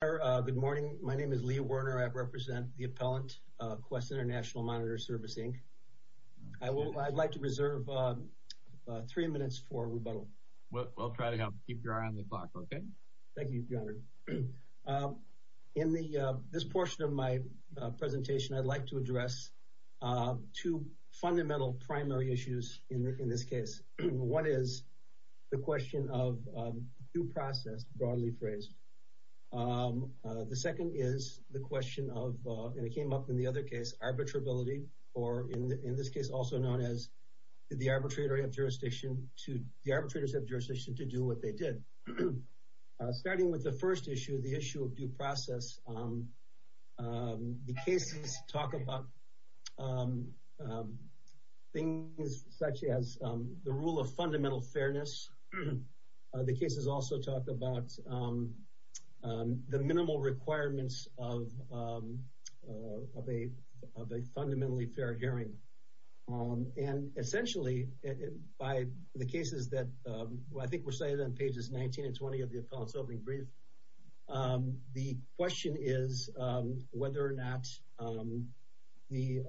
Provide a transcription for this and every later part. Good morning. My name is Lee Werner. I represent the appellant, Quest International Monitor Service, Inc. I'd like to reserve three minutes for rebuttal. We'll try to keep your eye on the clock, okay? Thank you, Your Honor. In this portion of my presentation, I'd like to address two fundamental primary issues in this case. One is the question of due process, broadly phrased. The second is the question of, and it came up in the other case, arbitrability, or in this case also known as the arbitrators have jurisdiction to do what they did. Starting with the first issue, the issue of due process, the cases talk about things such as the rule of fundamental fairness. The cases also talk about the minimal requirements of a fundamentally fair hearing. And essentially, by the cases that, I think we're cited on pages 19 and 20 of the appellant's opening brief, the question is whether or not the,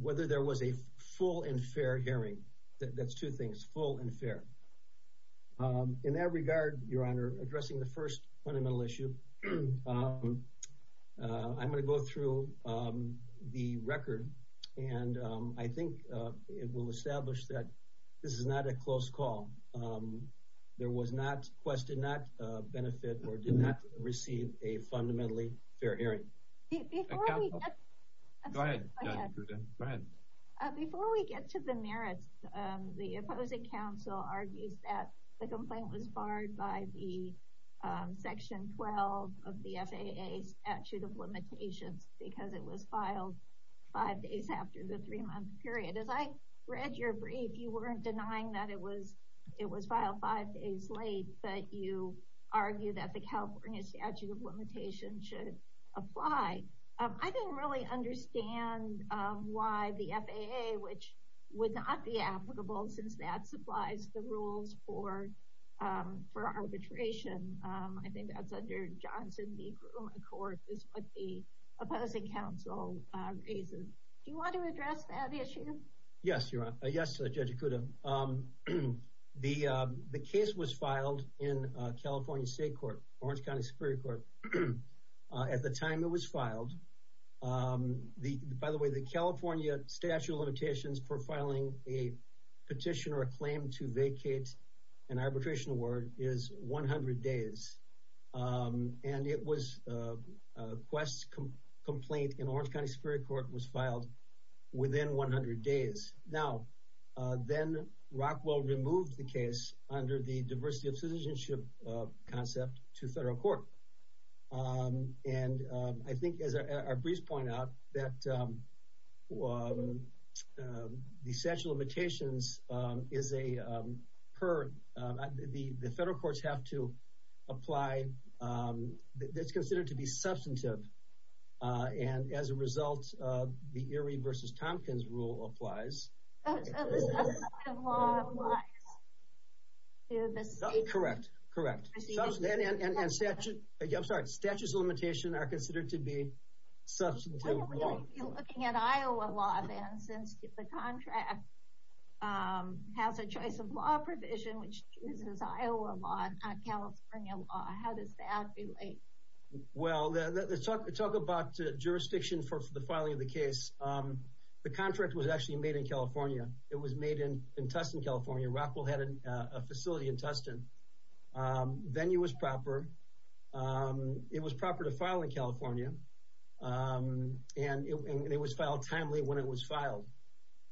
whether there was a full and fair hearing. That's two things, full and fair. In that regard, Your Honor, addressing the first fundamental issue, I'm going to go through the record, and I think it will establish that this is not a close call. There was not, Quest did not benefit or did not receive a fundamentally fair hearing. Before we get to the merits, the opposing counsel argues that the complaint was barred by the section 12 of the FAA statute of limitations because it was filed five days after the three month period. As I read your brief, you weren't denying that it was filed five days late, but you I didn't really understand why the FAA, which would not be applicable since that supplies the rules for arbitration. I think that's under Johnson v. Groom, of course, is what the opposing counsel raises. Do you want to address that issue? Yes, Your Honor. Yes, Judge Ikuda. The case was filed in California State Court, Orange County Superior Court, at the time it was filed. By the way, the California statute of limitations for filing a petition or a claim to vacate an arbitration award is 100 days. And Quest's complaint in Orange County Superior Court was filed within 100 days. Now, then Rockwell removed the case under the diversity of citizenship concept to federal court. And I think, as our briefs point out, that the statute of limitations is a per... the federal courts have to apply... it's considered to be substantive, and as a result the Erie v. Tompkins rule applies. Substantive law applies. Correct, correct. Statutes of limitations are considered to be substantive law. Why don't we be looking at Iowa law, then, since the contract has a choice of law provision, which uses Iowa law and not California law. How does that relate? Well, talk about jurisdiction for the filing of the case. The contract was actually made in California. It was made in Tustin, California. Rockwell had a facility in Tustin. Venue was proper. It was proper to file in California. And it was filed timely when it was filed.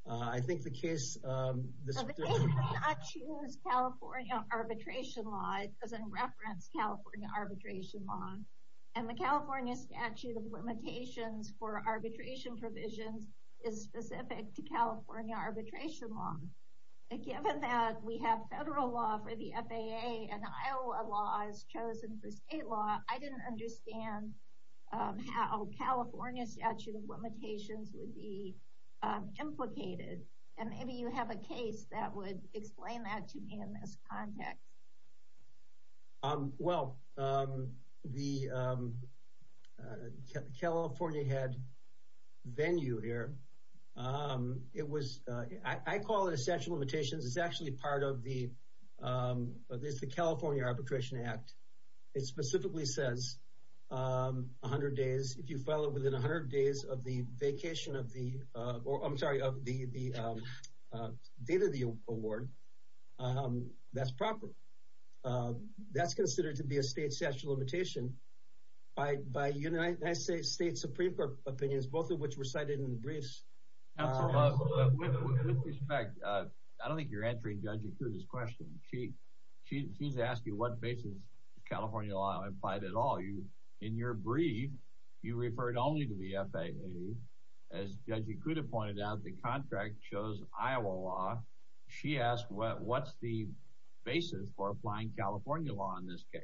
I think the case... The case does not use California arbitration law. It doesn't reference California arbitration law. And the California statute of limitations for arbitration provisions is specific to California arbitration law. Given that we have federal law for the FAA and Iowa law is chosen for state law, I didn't understand how California statute of limitations would be implicated. And maybe you have a case that would explain that to me in this context. Well, the California had venue here. I call it a statute of limitations. It's actually part of the California Arbitration Act. It specifically says if you file it within 100 days of the date of the award, that's proper. That's considered to be a state statute of limitation by United States Supreme Court opinions, both of which were cited in the briefs. With respect, I don't think you're answering Judge Ikuda's question. She's asking what basis California law implied at all. In your brief, you referred only to the FAA. As Judge Ikuda pointed out, the contract chose Iowa law. She asked what's the basis for applying California law in this case.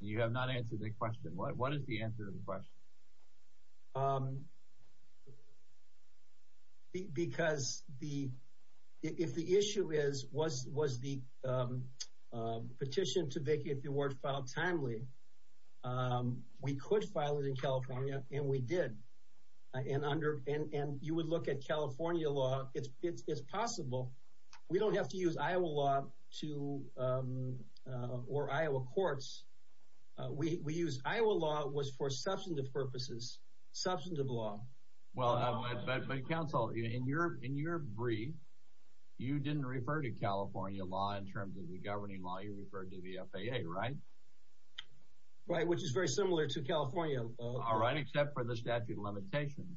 You have not answered the question. What is the answer to the question? Because if the issue was the petition to vacate the award filed timely, we could file it in California, and we did. And you would look at California law. It's possible. We don't have to use Iowa law or Iowa courts. We use Iowa law for substantive purposes. Substantive law. In your brief, you didn't refer to California law in terms of the governing law. You referred to the FAA, right? Right, which is very similar to California law. Except for the statute of limitations.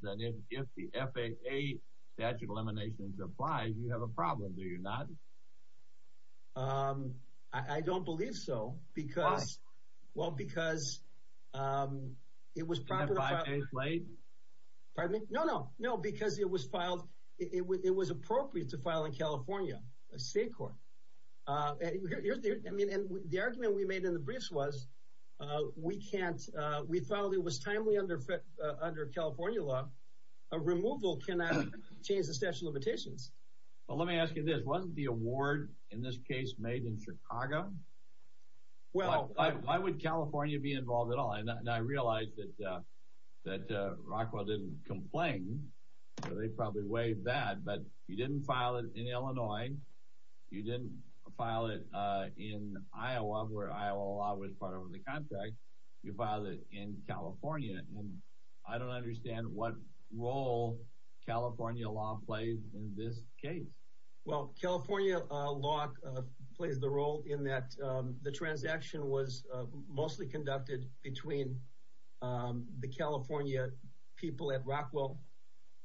If the FAA statute of limitations applies, you have a problem, do you not? I don't believe so. Why? Because it was appropriate to file in California, a state court. The argument we made in the briefs was we filed it. It was timely under California law. A removal cannot change the statute of limitations. Well, let me ask you this. Wasn't the award in this case made in Chicago? Why would California be involved at all? And I realize that Rockwell didn't complain. They probably waived that. But you didn't file it in Illinois. You didn't file it in Iowa, where Iowa law was part of the contract. You filed it in California. And I don't understand what role California law plays in this case. California law plays the role in that the transaction was mostly conducted between the California people at Rockwell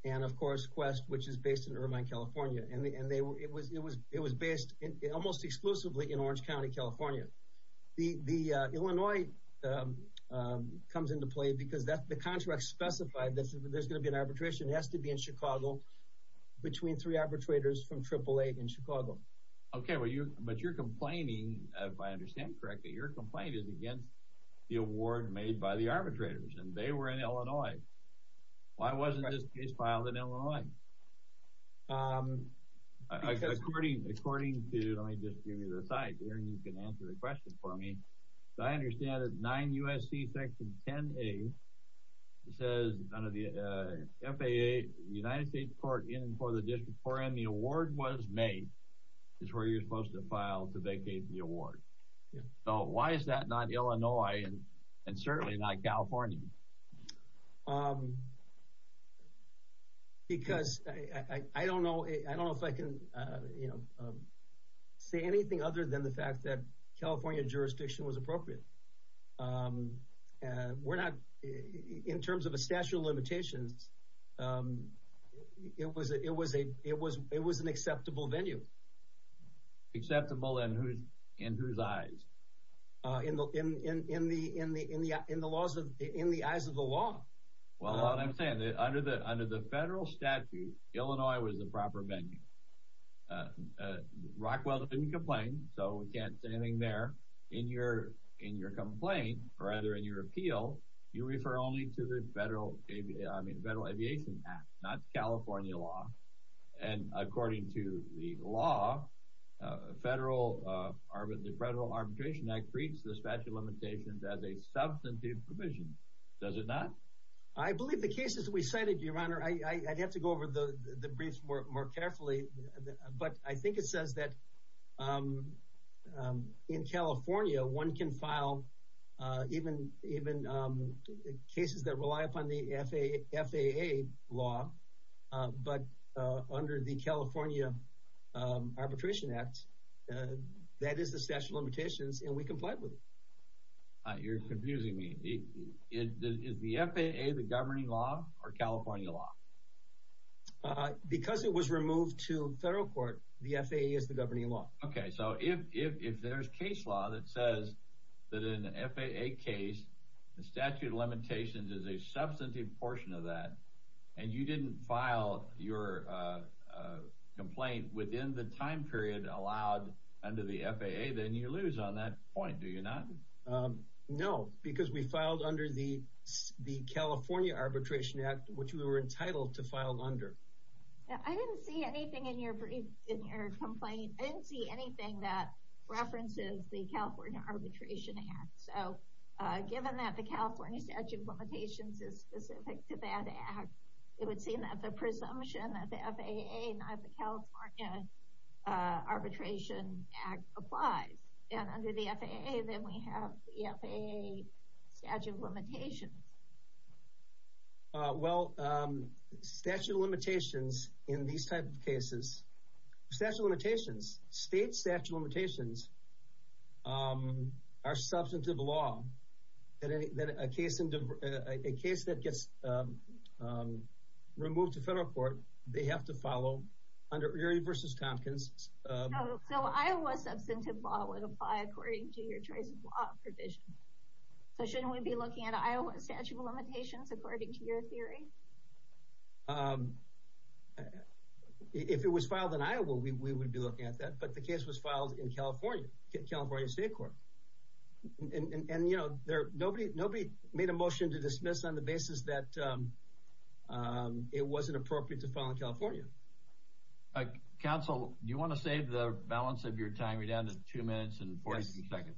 and, of course, Quest, which is based in Irvine, California. It was based almost exclusively in Orange County, California. The Illinois comes into play because the contract specified that there's going to be an arbitration. It has to be in Chicago between three arbitrators from AAA in Chicago. If I understand correctly, your complaint is against the award made by the arbitrators, and they were in Illinois. Why wasn't this case filed in Illinois? According to, let me just give you the site here, and you can answer the question for me. I understand that 9 U.S.C. Section 10A says under the FAA, United States Court in and for the District 4M, the award was made is where you're supposed to file to vacate the award. So why is that not Illinois, and certainly not California? Because I don't know if I can say anything other than the fact that California jurisdiction was appropriate. In terms of a statute of limitations, it was an acceptable venue. Acceptable in whose eyes? In the eyes of the law. Well, that's what I'm saying. Under the federal statute, Illinois was the proper venue. Rockwell didn't complain, so we can't say anything there. In your complaint, or rather in your appeal, you refer only to the Federal Aviation Act, not California law. And according to the law, the Federal Arbitration Act treats the statute of limitations as a substantive provision. Does it not? I believe the cases we cited, Your Honor, I'd have to go over the briefs more carefully, but I think it says that in California, one can file even cases that rely upon the FAA law, but under the California Arbitration Act, that is the statute of limitations and we comply with it. You're confusing me. Is the FAA the governing law, or California law? Because it was removed to federal court, the FAA is the governing law. Okay, so if there's case law that says that in an FAA case, the statute of limitations is a substantive portion of that, and you didn't file your complaint within the time period allowed under the FAA, then you lose on that point, do you not? No, because we filed under the California Arbitration Act which we were entitled to file under. I didn't see anything in your complaint, I didn't see anything that references the California Arbitration Act, so given that the California statute of limitations is specific to that act, it would seem that the presumption that the FAA, not the California Arbitration Act applies. And under the FAA, then we have the FAA statute of limitations. Well, statute of limitations in these type of cases, state statute of limitations are substantive law. A case that gets removed to federal court, they have to follow under Erie v. Tompkins. So Iowa substantive law would apply according to your choice of law provision. So shouldn't we be looking at Iowa statute of limitations according to your theory? If it was filed in Iowa, we would be looking at that, but the case was filed in California, California State Court. And you know, nobody made a motion to dismiss on the basis that it wasn't appropriate to file in California. Counsel, do you want to save the balance of your time? We're down to 2 minutes and 40 seconds.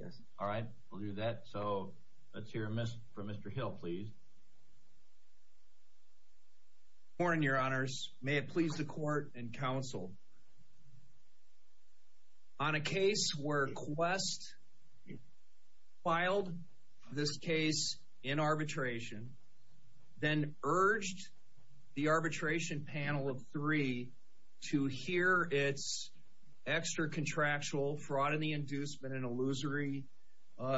Yes. Alright, we'll do that. So let's hear from Mr. Hill, please. Good morning, your honors. May it please the court and counsel. On a case where Quest filed this case in arbitration, then urged the arbitration panel of three to hear its extra-contractual fraud and the inducement and illusory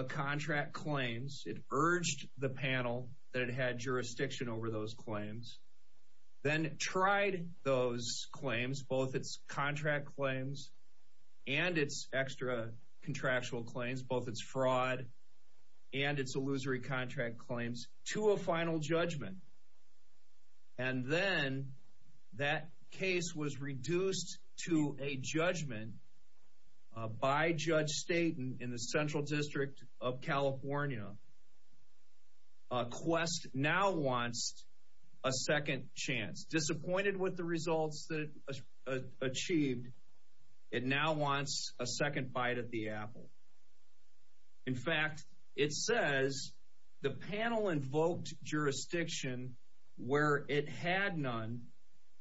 contract claims. It urged the panel that it had jurisdiction over those claims, then tried those claims, both its contract claims and its extra-contractual claims, both its fraud and its illusory contract claims, to a final judgment. And then that case was reduced to a judgment by Judge Staten in the Central District of California. Quest now wants a second bite at the apple. In fact, it says the panel invoked jurisdiction where it had none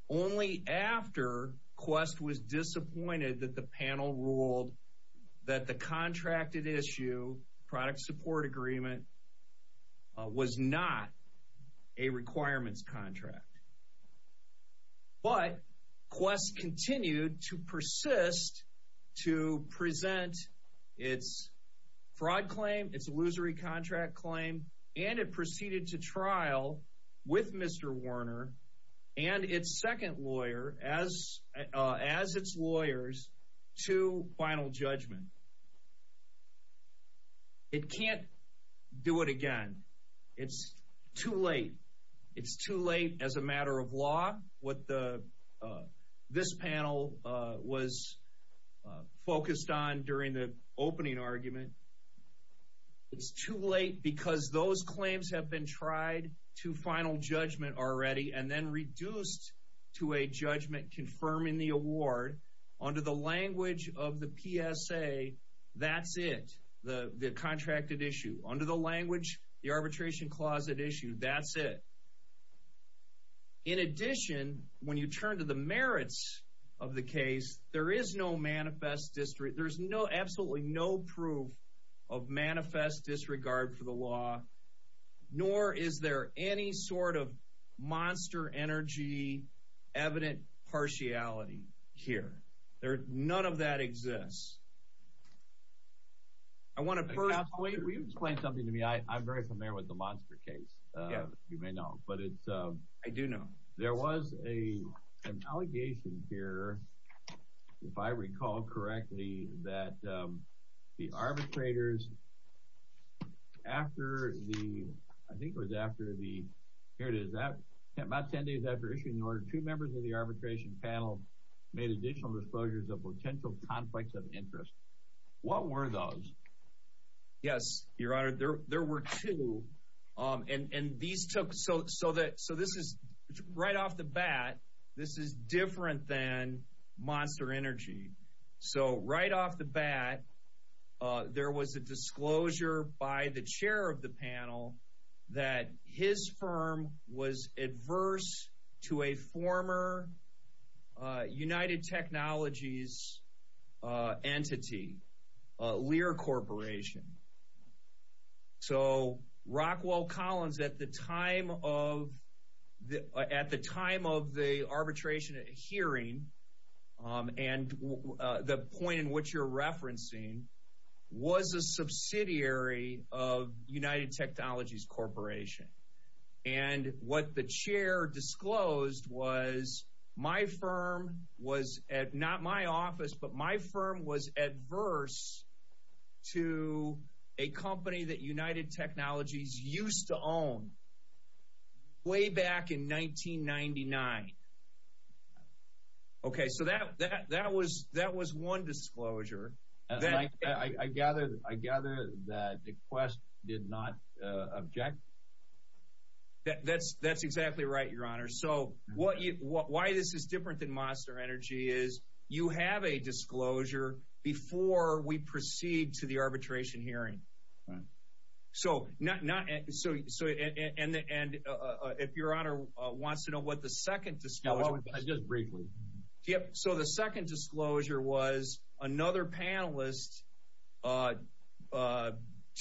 only after Quest was disappointed that the panel ruled that the contracted issue product support agreement was not a requirements contract. But Quest continued to persist to present its fraud claim, its illusory contract claim, and it proceeded to trial with Mr. Werner and its second lawyer as its lawyers to final judgment. It can't do it again. It's too late. It's too late as a matter of law. What this panel was focused on during the opening argument, it's too late because those claims have been tried to final judgment already and then reduced to a judgment confirming the award under the language of the PSA that's it, the contracted issue. Under the language the arbitration clause that issued, that's it. In addition, when you turn to the merits of the case there is no manifest, there's absolutely no proof of manifest disregard for the law nor is there any sort of monster energy evident partiality here. None of that exists. I want to first... I'm very familiar with the monster case, you may know. I do know. There was an allegation here if I recall correctly that the arbitrators after the I think it was after the, here it is, about 10 days after issuing the order, two members of the arbitration panel made additional disclosures of potential conflicts of interest. What were those? Yes, your honor, there were two and these took, so this is right off the bat this is different than monster energy so right off the bat there was a disclosure by the chair of the panel that his firm was adverse to a former United Technologies entity, Lear Corporation so Rockwell Collins at the time of at the time of the arbitration hearing and the point in which you're referencing was a subsidiary of United Technologies Corporation and what the chair disclosed was my firm was not my office, but my firm was adverse to a company that United Technologies used to own way back in 1999. Okay, so that was one disclosure. I gather that the quest did not object. That's exactly right, your honor, so why this is different than monster energy is you have a disclosure before we proceed to the arbitration hearing. So, if your honor wants to know what the second disclosure was. Just briefly. Yep, so the second disclosure was another panelist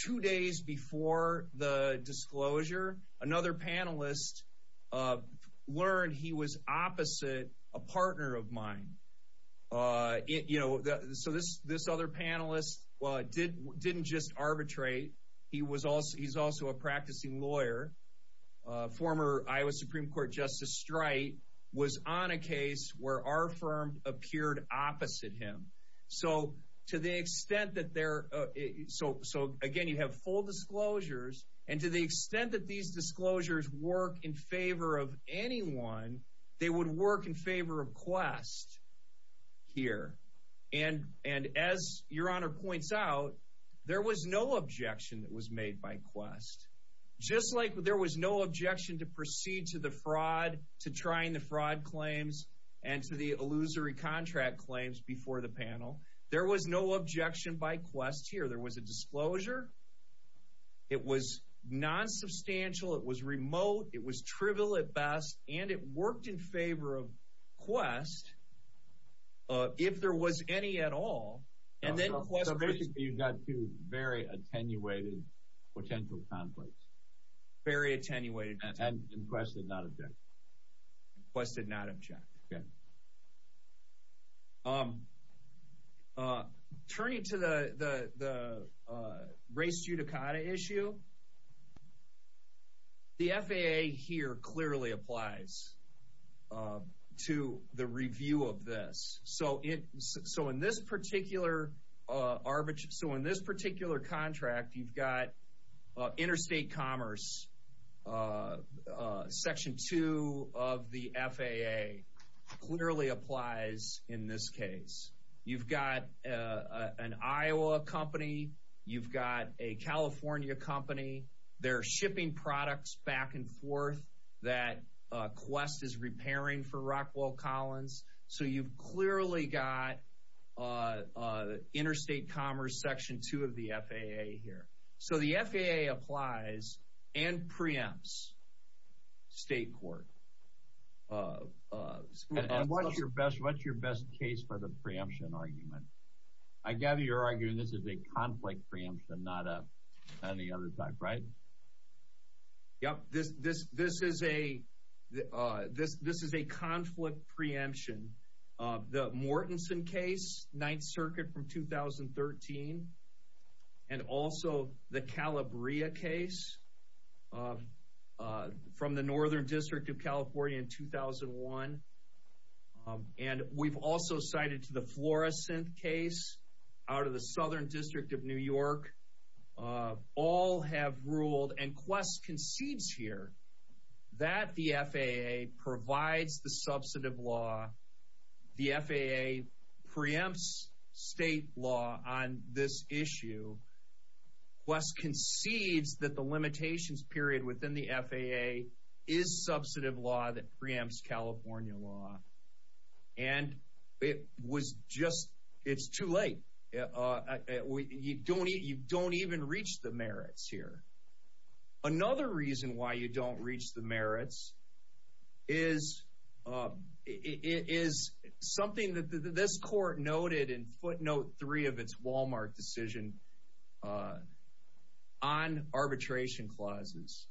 two days before the disclosure, another panelist learned he was opposite a partner of mine. So this other panelist didn't just arbitrate, he's also a practicing lawyer, former Iowa Supreme Court Justice Streit was on a case where our firm appeared opposite him. So to the extent that they're so again you have full disclosures and to the extent that these disclosures work in favor of anyone they would work in favor of quest here and as your honor points out there was no objection that was made by quest. Just like there was no objection to proceed to the fraud, to trying the fraud claims and to the illusory contract claims before the panel. There was no objection by quest here. There was a disclosure it was non-substantial, it was remote it was trivial at best and it worked in favor of quest if there was any at all So basically you've got two very attenuated potential conflicts. Very attenuated. And quest did not object. Quest did not object. Turning to the race judicata issue the FAA here clearly applies to the review of this so in this particular contract you've got interstate commerce section two of the FAA clearly applies in this case. You've got an Iowa company, you've got a California company. They're shipping products back and forth that quest is repairing for Rockwell Collins so you've clearly got interstate commerce section two of the FAA here. So the FAA applies and preempts state court And what's your best case for the preemption argument? I gather you're arguing this is a conflict preemption and not any other type, right? This is a conflict preemption. The Mortenson case, 9th Circuit from 2013 and also the Calabria case from the 2001 and we've also cited to the Florescent case out of the Southern District of New York all have ruled and quest concedes here that the FAA provides the substantive law. The FAA preempts state law on this issue. Quest concedes that the limitations period within the FAA is substantive law that preempts California law and it was just, it's too late you don't even reach the merits here. Another reason why you don't reach the merits is something that this court noted in footnote three of its Walmart decision on arbitration clauses.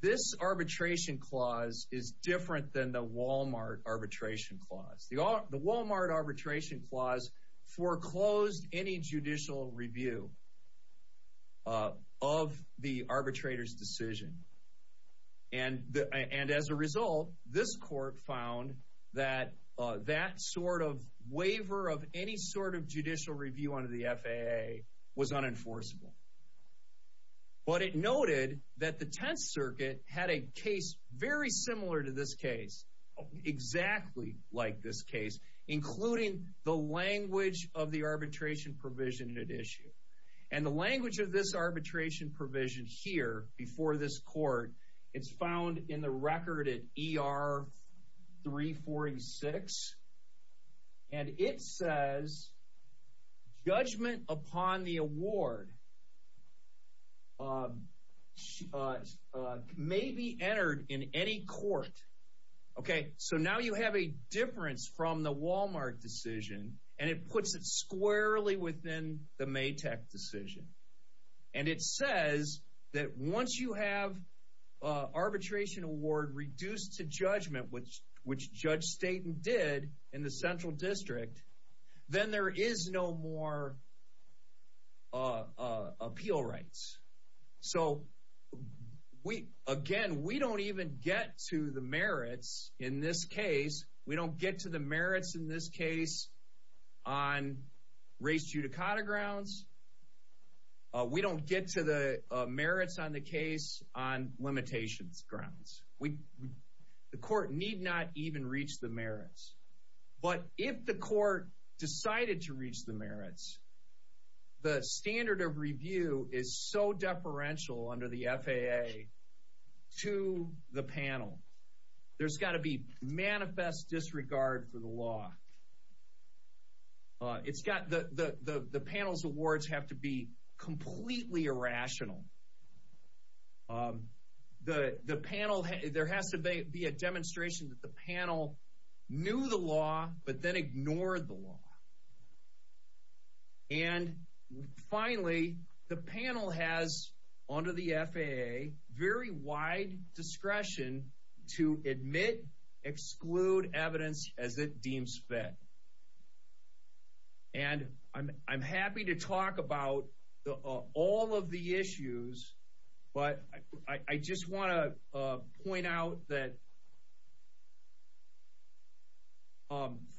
This arbitration clause is different than the Walmart arbitration clause. The Walmart arbitration clause foreclosed any judicial review of the arbitrator's decision and as a result this court found that that sort of waiver of any sort of judicial review under the FAA was unenforceable. But it noted that the Tenth Circuit had a case very similar to this case, exactly like this case, including the language of the arbitration provision it issued. And the language of this arbitration provision here before this court, it's found in the record at ER 346 and it says judgment upon the award may be entered in any court. Okay, so now you have a difference from the Walmart decision and it puts it squarely within the Maytek decision. And it says that once you have arbitration award reduced to judgment which Judge Staten did in the Central District then there is no more appeal rights. So again, we don't even get to the merits in this case. We don't get to the merits in this case on race judicata grounds. We don't get to the merits on the case on limitations grounds. The court need not even reach the merits. But if the court decided to reach the merits the standard of review is so deferential under the FAA to the panel. There's got to be manifest disregard for the law. The panel's awards have to be completely irrational. There has to be a demonstration that the panel knew the law but then ignored the law. And finally the panel has under the FAA very wide discretion to admit, exclude evidence as it deems fit. And I'm happy to talk about all of the issues but I just want to point out that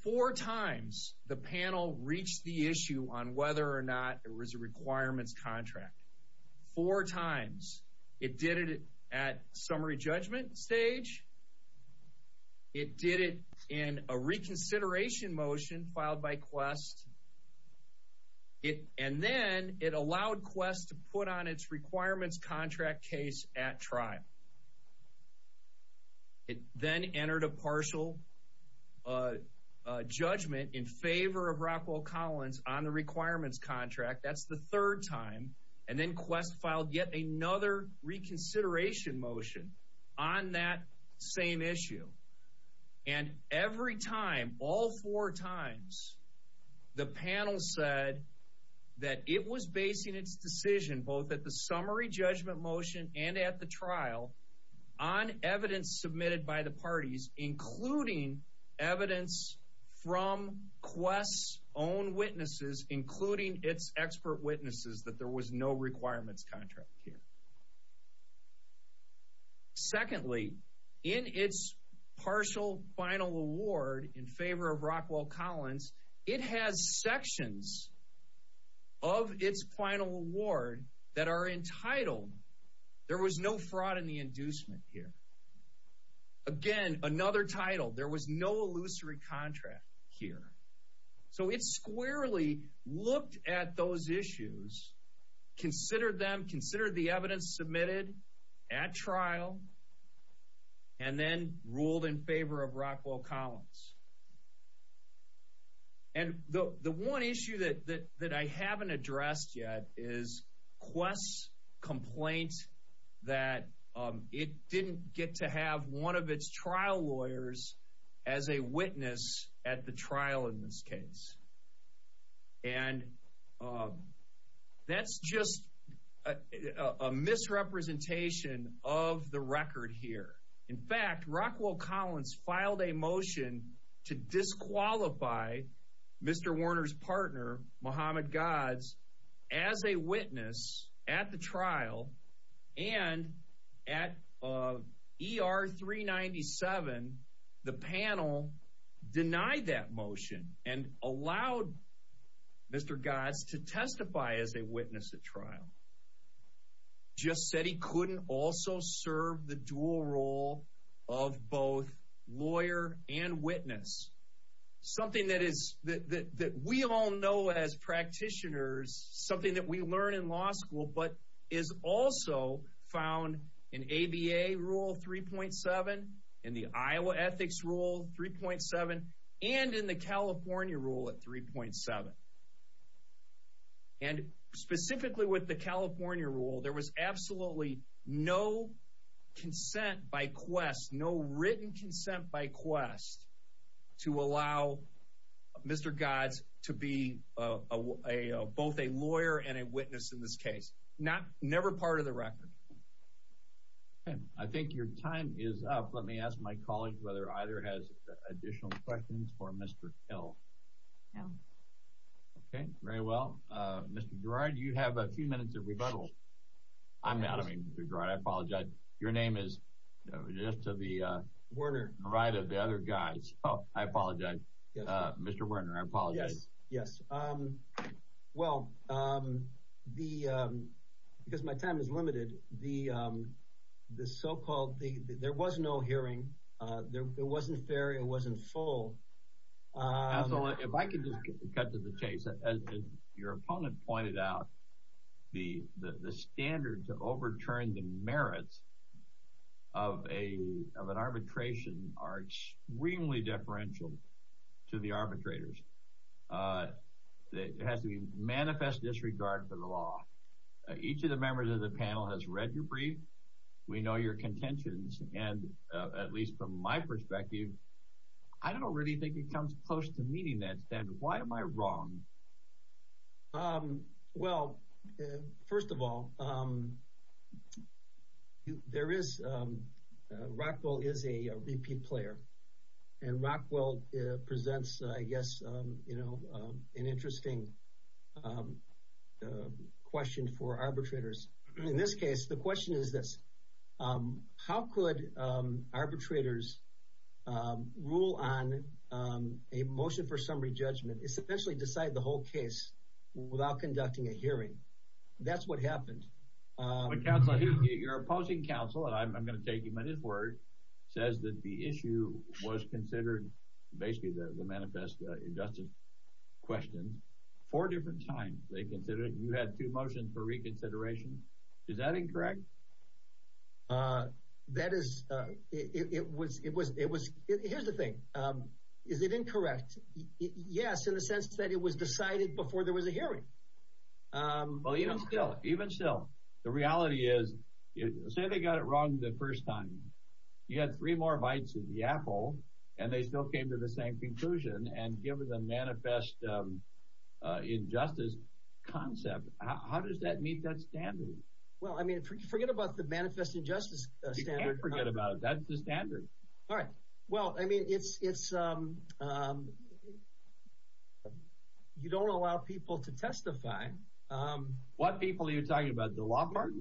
four times the panel reached the issue on whether or not there was a requirements contract. Four times. It did it at summary judgment stage. It did it in a reconsideration motion filed by Quest. And then it allowed Quest to put on its requirements contract case at trial. It then entered a partial judgment in favor of Rockwell Collins on the requirements contract. That's the third time. And then Quest filed yet another reconsideration motion on that same issue. And every time, all four times, the panel said that it was basing its decision both at the summary judgment motion and at the trial on evidence submitted by the parties including evidence from Quest's own witnesses including its expert witnesses that there was no requirements contract here. Secondly in its partial final award in favor of Rockwell Collins, it has sections of its final award that are entitled, there was no fraud in the inducement here. Again, another title, there was no illusory contract here. So it squarely looked at those issues, considered them, considered the evidence submitted at trial, and then ruled in favor of Rockwell Collins. And the one issue that I haven't addressed yet is Quest's complaint that it didn't get to have one of its trial lawyers as a witness at the trial in this case. And that's just a misrepresentation of the record here. In fact, Rockwell Collins filed a motion to disqualify Mr. Warner's partner, Muhammad Gads, as a witness at the trial and at ER 397, the panel denied that motion and allowed Mr. Gads to testify as a witness at trial. Just said he couldn't also serve the dual role of both lawyer and witness. Something that we all know as practitioners, something that we learn in law school, but is also found in ABA Rule 3.7, in the Iowa Ethics Rule 3.7, and in the California Rule at 3.7. And specifically with the California Rule, there was absolutely no consent by Quest, no written consent by Quest to allow Mr. Gads to be both a lawyer and a witness in this case. Never part of the record. I think your time is up. Let me ask my colleague whether either has additional questions for Mr. Hill. Okay, very well. Mr. Gerard, you have a few minutes of Mr. Gerard, I apologize. Your name is just to the right of the other guys. I apologize. Mr. Werner, I apologize. Well, because my time is limited, there was no hearing, it wasn't fair, it wasn't full. Absolutely, if I could just cut to the chase, as your opponent pointed out, the standard to overturn the merits of an arbitration are extremely differential to the arbitrators. It has to be manifest disregard for the law. Each of the members of the panel has read your brief, we know your contentions, and at least from my perspective, I don't really think it comes close to meeting that standard. Why am I wrong? Well, first of all, there is Rockwell is a repeat player, and Rockwell presents, I guess, an interesting question for arbitrators. In this case, the question is this. How could arbitrators rule on a motion for summary judgment, essentially decide the whole case without conducting a hearing? That's what happened. Your opposing counsel, and I'm going to take him at his word, says that the issue was considered, basically the manifest injustice questions, four different times they considered it. You had two motions for reconsideration. Is that incorrect? Here's the thing. Is it incorrect? Yes, in the sense that it was decided before there was a hearing. The reality is, say they got it wrong the first time. You had three more bites of the apple, and they still came to the same conclusion, and given the manifest injustice concept, how does that meet that standard? Forget about the manifest injustice standard. You can't forget about it. That's the standard. All right. Well, I mean, it's you don't allow people to testify. What people are you talking about? The law party?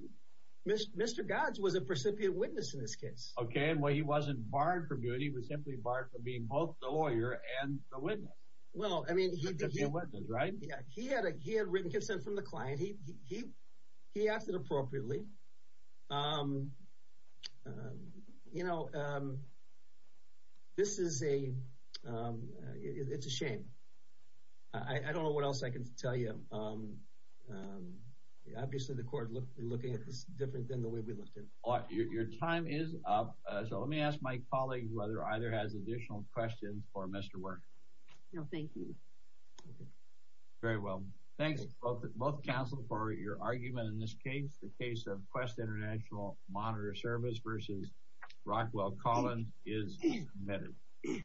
Mr. Godge was a precipient witness in this case. Okay, and he wasn't barred from doing it. He was simply barred from being both the lawyer and the witness. He had written consent from the client. He acted appropriately. You know, this is a shame. I don't know what else I can tell you. Obviously, the court is looking at this different than the way we looked at it. Your time is up, so let me ask my colleague whether either has additional questions for Mr. Werner. No, thank you. Very well. Thanks, both counsel, for your argument in this case. The case of Quest International Monitor Service versus Rockwell Collins is submitted.